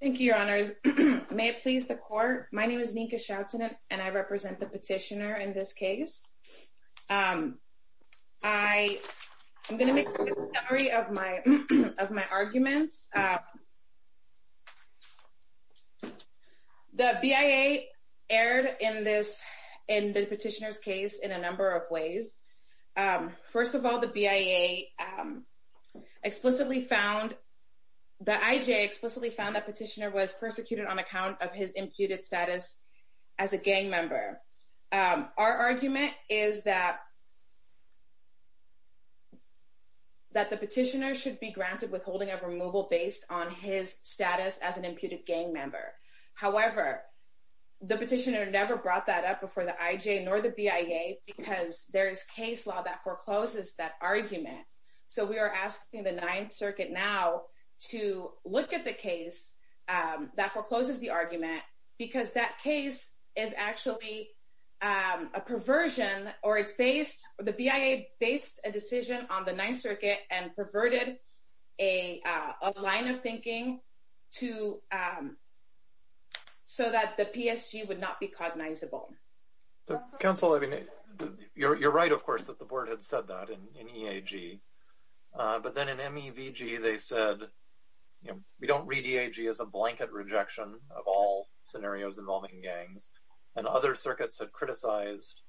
Thank you, your honors, may it please the court. My name is Nika Shelton and I represent the petitioner in this case. I'm going to make a summary of my arguments. The BIA erred in the petitioner's case in a number of ways. First of all, the BIA The IJ explicitly found that the petitioner was persecuted on account of his imputed status as a gang member. Our argument is that the petitioner should be granted withholding of removal based on his status as an imputed gang member. However, the petitioner never brought that up before the IJ nor the BIA because there is case law that forecloses that argument. So we are asking the Ninth Circuit now to look at the case that forecloses the argument because that case is actually a perversion. The BIA based a decision on the Ninth Circuit and perverted a line of thinking so that the PSG would not be cognizable. Counsel, you're right, of course, that the board had said that in EAG. But then in MEVG, they said, you know, we don't read EAG as a blanket rejection of all scenarios involving gangs. And other circuits have criticized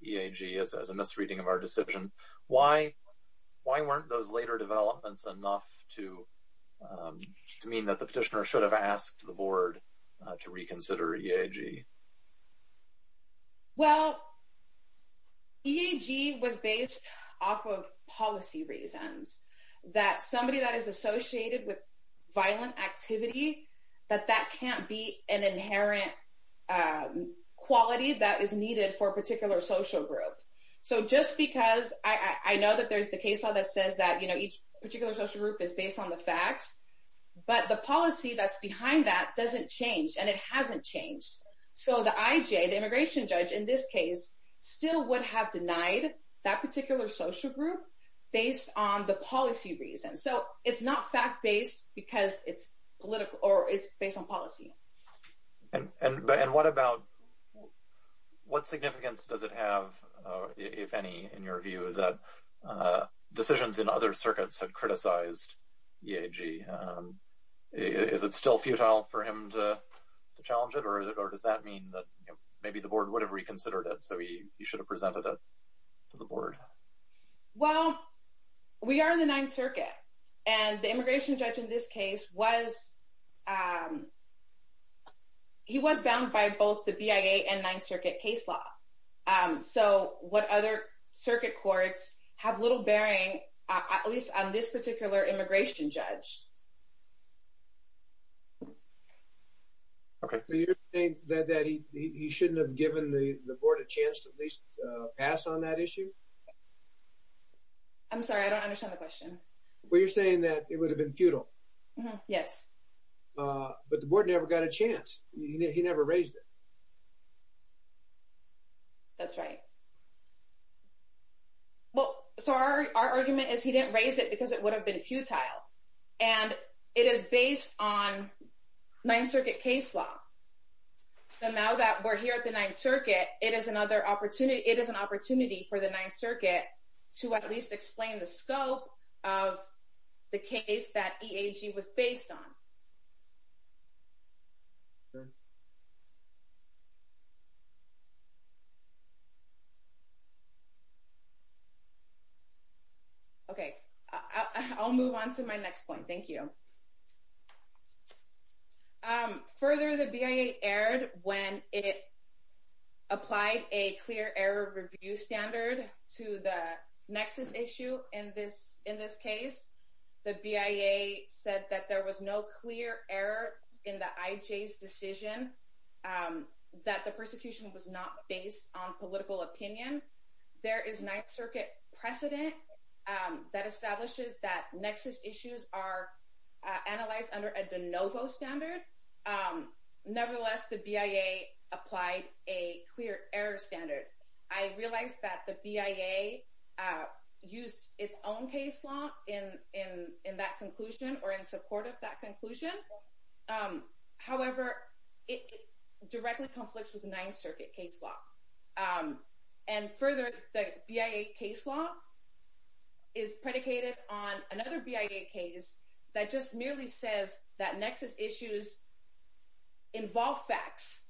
EAG as a misreading of our decision. Why? Why weren't those later developments enough to mean that the petitioner should have asked the board to reconsider EAG? Well, EAG was based off of policy reasons that somebody that is associated with violent activity, that that can't be an inherent quality that is needed for a particular social group. So just because I know that there's the case law that says that, you know, each particular social group is based on the facts. But the policy that's behind that doesn't change and it hasn't changed. So the IJ, the immigration judge in this case, still would have denied that particular social group based on the policy reasons. So it's not fact based because it's political or it's based on policy. And what about what significance does it have, if any, in your view that decisions in other circuits have criticized EAG? Is it still futile for him to challenge it or does that mean that maybe the board would have reconsidered it so he should have presented it to the board? Well, we are in the Ninth Circuit and the immigration judge in this case was, he was bound by both the BIA and Ninth Circuit case law. So what other circuit courts have little bearing, at least on this particular immigration judge? Okay, so you're saying that he shouldn't have given the board a chance to at least pass on that issue? I'm sorry, I don't understand the question. Well, you're saying that it would have been futile. Yes. But the board never got a chance. He never raised it. That's right. Well, so our argument is he didn't raise it because it would have been futile. And it is based on Ninth Circuit case law. So now that we're here at the Ninth Circuit, it is another opportunity, it is an opportunity for the Ninth Circuit to at least explain the scope of the case that EAG was based on. Okay, I'll move on to my next point. Thank you. Further, the BIA erred when it applied a clear error review standard to the nexus issue in this case. The BIA said that there was no clear error in the IJ's decision, that the persecution was not based on political opinion. There is Ninth Circuit precedent that establishes that nexus issues are analyzed under a de novo standard. Nevertheless, the BIA applied a clear error standard. I realize that the BIA used its own case law in that conclusion or in support of that conclusion. However, it directly conflicts with Ninth Circuit case law. And further, the BIA case law is predicated on another BIA case that just merely says that nexus issues involve facts,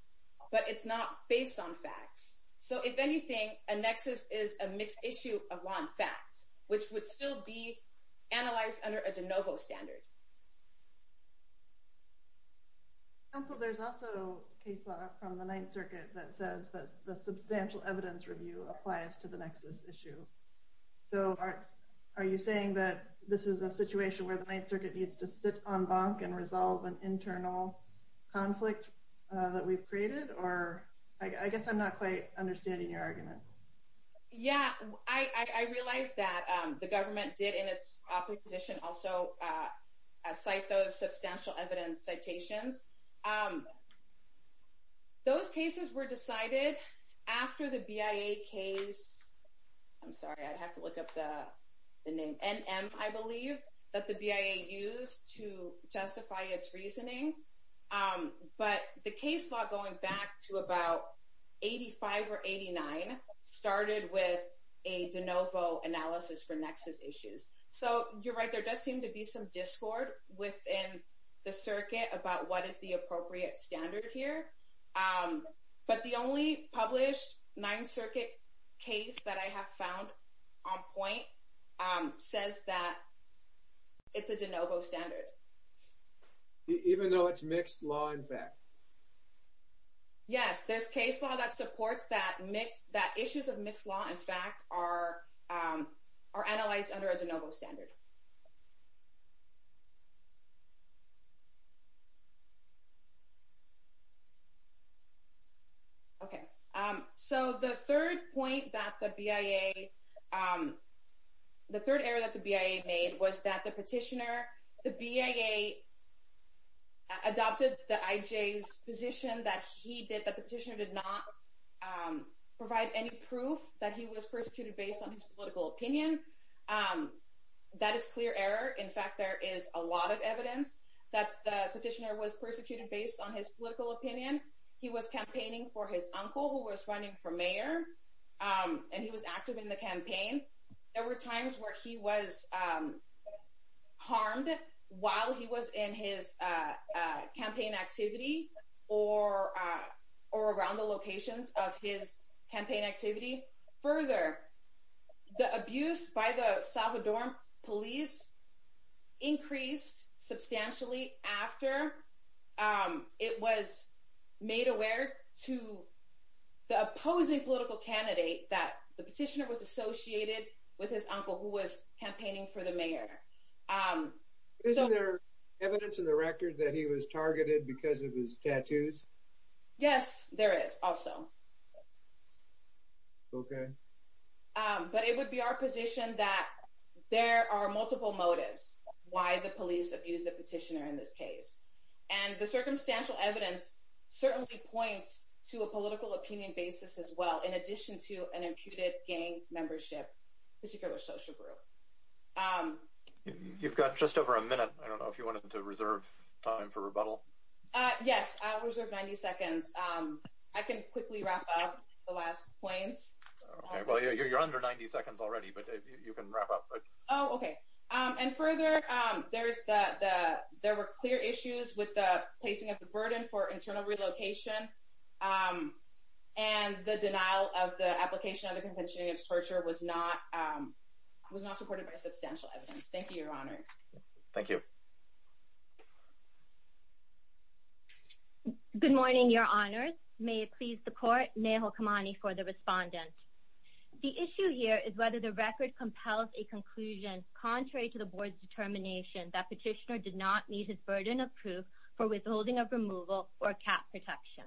but it's not based on facts. So if anything, a nexus is a mixed issue of law and facts, which would still be analyzed under a de novo standard. Counsel, there's also case law from the Ninth Circuit that says that the substantial evidence review applies to the nexus issue. So are you saying that this is a situation where the Ninth Circuit needs to sit on bonk and resolve an internal conflict that we've created? Or I guess I'm not quite understanding your argument. Yeah, I realize that the government did in its opposition also cite those substantial evidence citations. Those cases were decided after the BIA case. I'm sorry, I'd have to look up the name. NM, I believe, that the BIA used to justify its reasoning. But the case law going back to about 85 or 89 started with a de novo analysis for nexus issues. So you're right. There does seem to be some discord within the circuit about what is the appropriate standard here. But the only published Ninth Circuit case that I have found on point says that it's a de novo standard. Even though it's mixed law, in fact? Yes, there's case law that supports that issues of mixed law, in fact, are analyzed under a de novo standard. Okay, so the third point that the BIA, the third error that the BIA made was that the petitioner, the BIA adopted the IJ's position that he did, that the petitioner did not provide any proof that he was persecuted based on his political opinion. That is clear error. In fact, there is a lot of evidence that the petitioner was persecuted based on his political opinion. He was campaigning for his uncle who was running for mayor and he was active in the campaign. There were times where he was harmed while he was in his campaign activity or around the locations of his campaign activity. Further, the abuse by the Salvadoran police increased substantially after it was made aware to the opposing political candidate that the petitioner was associated with his uncle who was campaigning for the mayor. Is there evidence in the record that he was targeted because of his tattoos? Yes, there is also. Okay. But it would be our position that there are multiple motives why the police abused the petitioner in this case. And the circumstantial evidence certainly points to a political opinion basis as well in addition to an imputed gang membership, particular social group. You've got just over a minute. I don't know if you wanted to reserve time for rebuttal. Yes, I'll reserve 90 seconds. I can quickly wrap up the last points. Well, you're under 90 seconds already, but you can wrap up. Oh, okay. And further, there were clear issues with the placing of the burden for internal relocation and the denial of the application of the convention against torture was not supported by substantial evidence. Thank you, Your Honor. Thank you. Good morning, Your Honor. May it please the court, Nehal Kamani for the respondent. The issue here is whether the record compels a conclusion contrary to the board's determination that petitioner did not meet his burden of proof for withholding of removal or cap protection.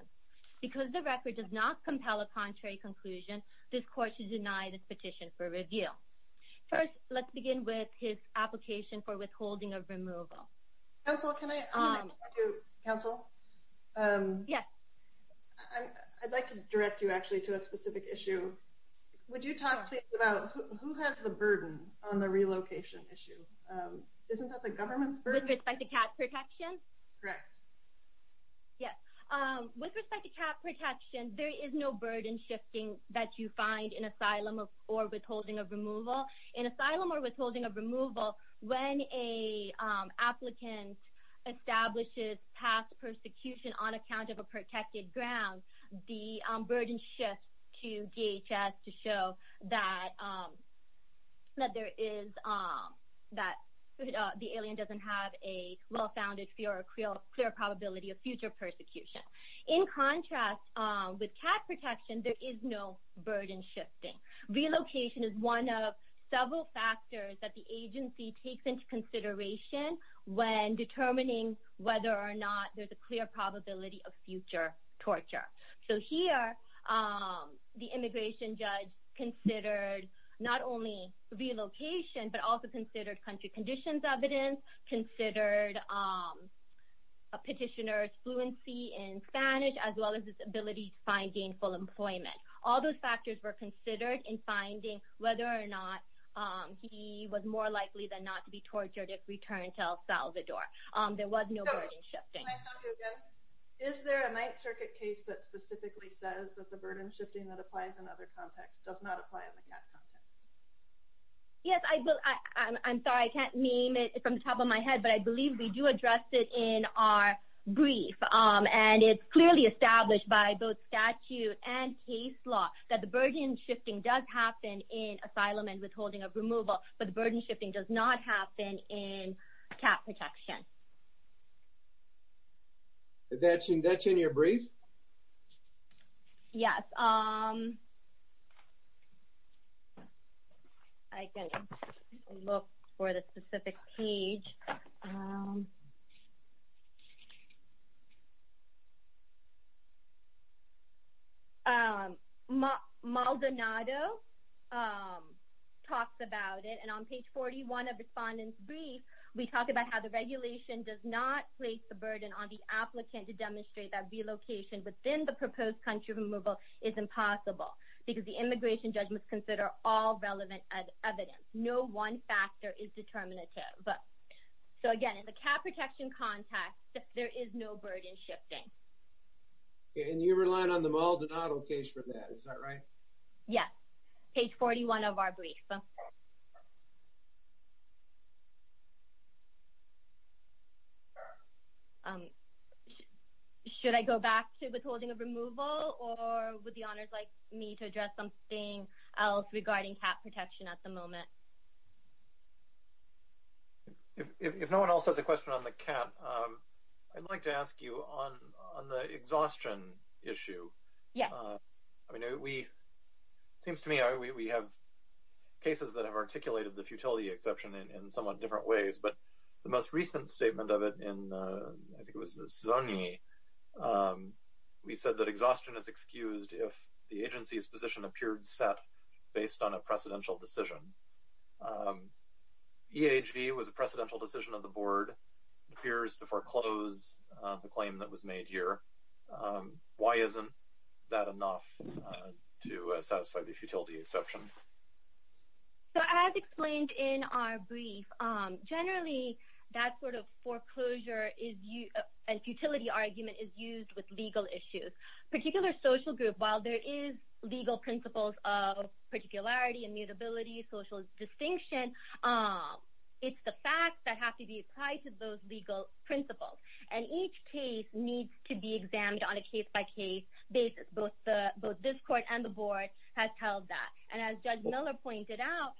Because the record does not compel a contrary conclusion, this court should deny this petition for review. First, let's begin with his application for withholding of removal. Counsel, I'd like to direct you actually to a specific issue. Would you talk about who has the burden on the relocation issue? Isn't that the government's burden? With respect to cap protection? Correct. Yes. With respect to cap protection, there is no burden shifting that you find in asylum or withholding of removal. In asylum or withholding of removal, when an applicant establishes past persecution on account of a protected ground, the burden shifts to DHS to show that the alien doesn't have a well-founded, clear probability of future persecution. In contrast, with cap protection, there is no burden shifting. Relocation is one of several factors that the agency takes into consideration when determining whether or not there's a clear probability of future torture. Here, the immigration judge considered not only relocation, but also considered country conditions evidence, considered a petitioner's fluency in Spanish, as well as his ability to find gainful employment. All those factors were considered in finding whether or not he was more likely than not to be tortured if returned to El Salvador. There was no burden shifting. Can I stop you again? Is there a Ninth Circuit case that specifically says that the burden shifting that applies in other contexts does not apply in the cap context? Yes. I'm sorry. I can't name it from the top of my head, but I believe we do address it in our brief. It's clearly established by both statute and case law that the burden shifting does happen in asylum and withholding of removal, but the burden shifting does not happen in cap protection. That's in your brief? Yes. I can look for the specific page. Maldonado talks about it, and on page 41 of the respondent's brief, we talk about how the regulation does not place the burden on the applicant to demonstrate that relocation within the proposed country of removal is impossible, because the immigration judge must consider all relevant evidence. No one factor is determinative. Again, in the cap protection context, there is no burden shifting. And you're relying on the Maldonado case for that. Is that right? Yes. Page 41 of our brief. Should I go back to withholding of removal, or would the honors like me to address something else regarding cap protection at the moment? If no one else has a question on the cap, I'd like to ask you on the exhaustion issue. Yeah. I mean, it seems to me we have cases that have articulated the futility exception in somewhat different ways, but the most recent statement of it in, I think it was Szonyi, we said that exhaustion is excused if the agency's position appeared set based on a precedential decision. EHV was a precedential decision of the board. It appears to foreclose the claim that was made here. Why isn't that enough to satisfy the futility exception? So as explained in our brief, generally that sort of foreclosure and futility argument is used with legal issues. Particular social group, while there is legal principles of particularity, immutability, social distinction, it's the facts that have to be applied to those legal principles. And each case needs to be examined on a case-by-case basis. Both this court and the board have held that. And as Judge Miller pointed out,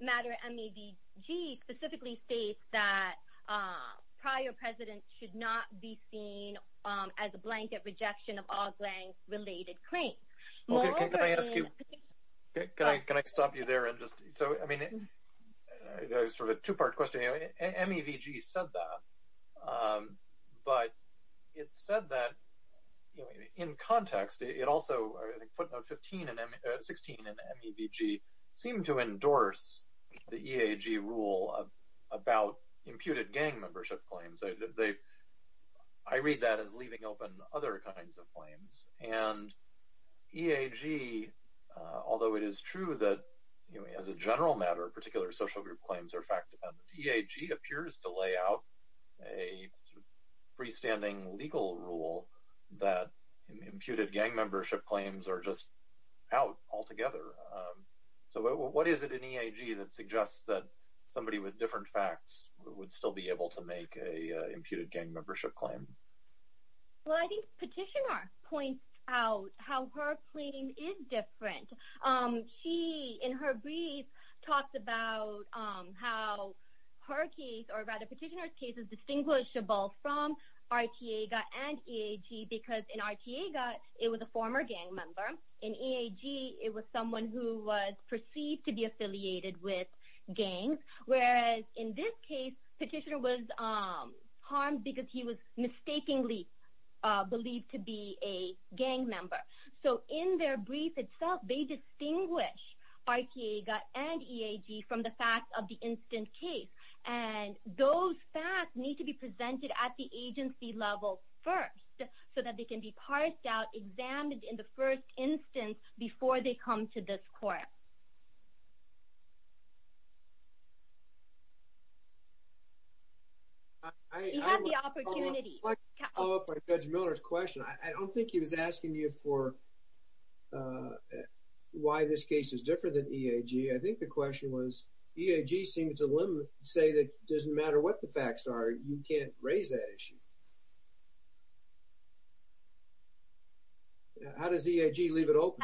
MATTER-MEVG specifically states that prior precedent should not be seen as a blanket rejection of all grant-related claims. Okay, can I ask you, can I stop you there and just, so, I mean, it was sort of a two-part question. MEVG said that, but it said that in context, it also, I think footnote 15 and 16 in MEVG seem to endorse the EAG rule about imputed gang membership claims. I read that as leaving open other kinds of claims. And EAG, although it is true that as a general matter, particular social group claims are fact-dependent, EAG appears to lay out a freestanding legal rule that imputed gang membership claims are just out altogether. So what is it in EAG that suggests that somebody with different facts would still be able to make an imputed gang membership claim? Well, I think Petitioner points out how her claim is different. She, in her brief, talks about how her case, or rather Petitioner's case, is distinguishable from Arteaga and EAG because in Arteaga, it was a former gang member. In EAG, it was someone who was perceived to be affiliated with gangs, whereas in this case, Petitioner was harmed because he was mistakenly believed to be a gang member. So in their brief itself, they distinguish Arteaga and EAG from the fact of the instant case. And those facts need to be presented at the agency level first so that they can be parsed out, examined in the first instance before they come to this court. You have the opportunity. I'd like to follow up on Judge Miller's question. I don't think he was asking you for why this case is different than EAG. I think the question was EAG seems to say that it doesn't matter what the facts are, you can't raise that issue. How does EAG leave it open?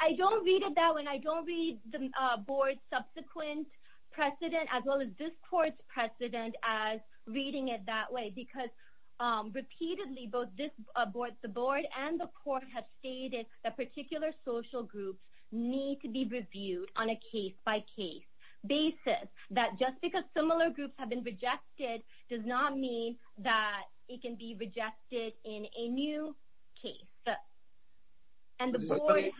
I don't read it that way. I don't read the board's subsequent precedent as well as this court's precedent as reading it that way. Because repeatedly, both the board and the court have stated that particular social groups need to be reviewed on a case-by-case basis. That just because similar groups have been rejected does not mean that it can be rejected in a new case. Does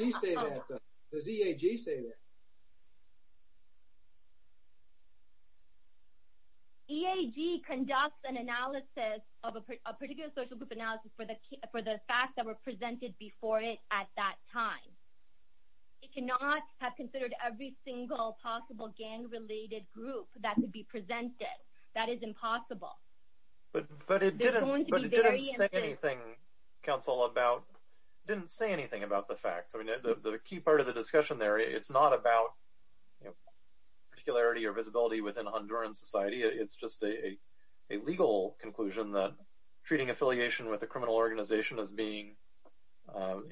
EAG say that? EAG conducts an analysis of a particular social group analysis for the facts that were presented before it at that time. It cannot have considered every single possible gang-related group that could be presented. That is impossible. But it didn't say anything, counsel, about the facts. The key part of the discussion there, it's not about particularity or visibility within Honduran society. It's just a legal conclusion that treating affiliation with a criminal organization as being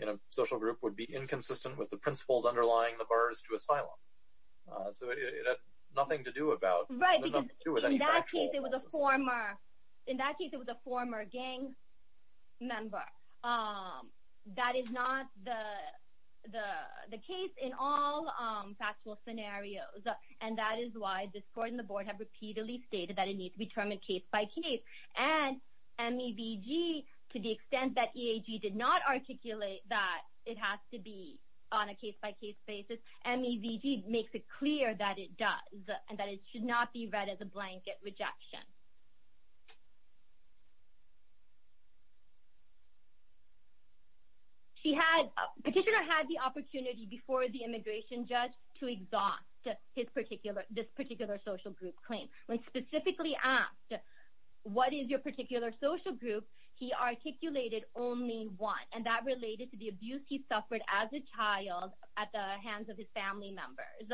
in a social group would be inconsistent with the principles underlying the bars to asylum. So it had nothing to do with any factual analysis. In that case, it was a former gang member. That is not the case in all factual scenarios. And that is why this court and the board have repeatedly stated that it needs to be determined case-by-case. And MEVG, to the extent that EAG did not articulate that it has to be on a case-by-case basis, MEVG makes it clear that it does and that it should not be read as a blanket rejection. Petitioner had the opportunity before the immigration judge to exhaust this particular social group claim. When specifically asked, what is your particular social group, he articulated only one. And that related to the abuse he suffered as a child at the hands of his family members.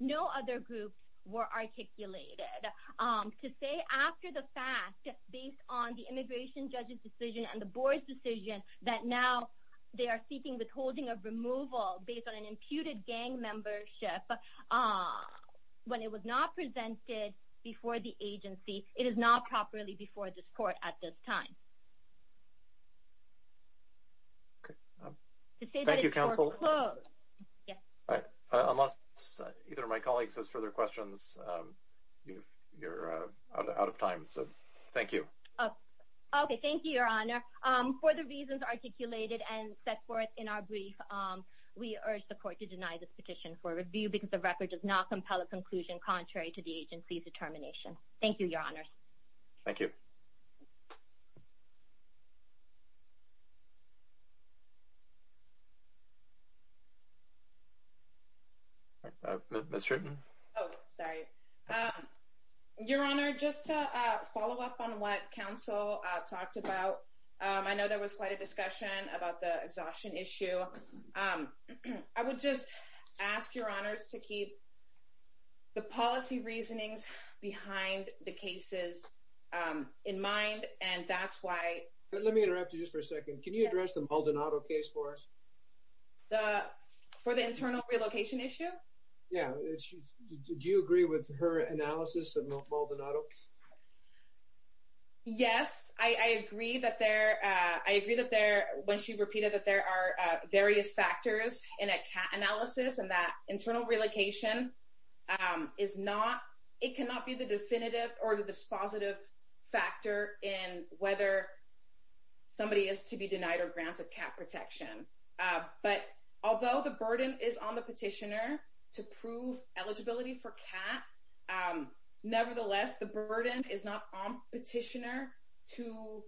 No other groups were articulated. To say after the fact, based on the immigration judge's decision and the board's decision, that now they are seeking withholding of removal based on an imputed gang membership, when it was not presented before the agency, it is not properly before this court at this time. Thank you, counsel. Unless either of my colleagues has further questions, you are out of time. Thank you. Thank you, Your Honor. For the reasons articulated and set forth in our brief, we urge the court to deny this petition for review because the record does not compel a conclusion contrary to the agency's determination. Thank you, Your Honors. Thank you. Ms. Stratton. Oh, sorry. Your Honor, just to follow up on what counsel talked about, I know there was quite a discussion about the exhaustion issue. I would just ask Your Honors to keep the policy reasonings behind the cases in mind, and that's why... Let me interrupt you just for a second. Can you address the Maldonado case for us? For the internal relocation issue? Yeah. Did you agree with her analysis of Maldonado? Yes. I agree that there... I agree that there... When she repeated that there are various factors in a CAT analysis and that internal relocation is not... It cannot be the definitive or the dispositive factor in whether somebody is to be denied or granted CAT protection. But although the burden is on the petitioner to prove eligibility for CAT, nevertheless, the burden is not on petitioner to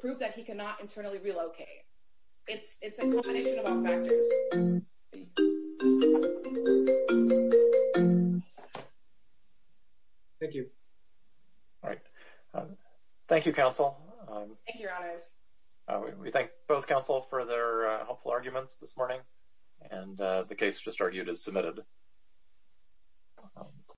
prove that he cannot internally relocate. It's a combination of all factors. Thank you. All right. Thank you, Your Honors. We thank both counsel for their helpful arguments this morning, and the case just argued is submitted.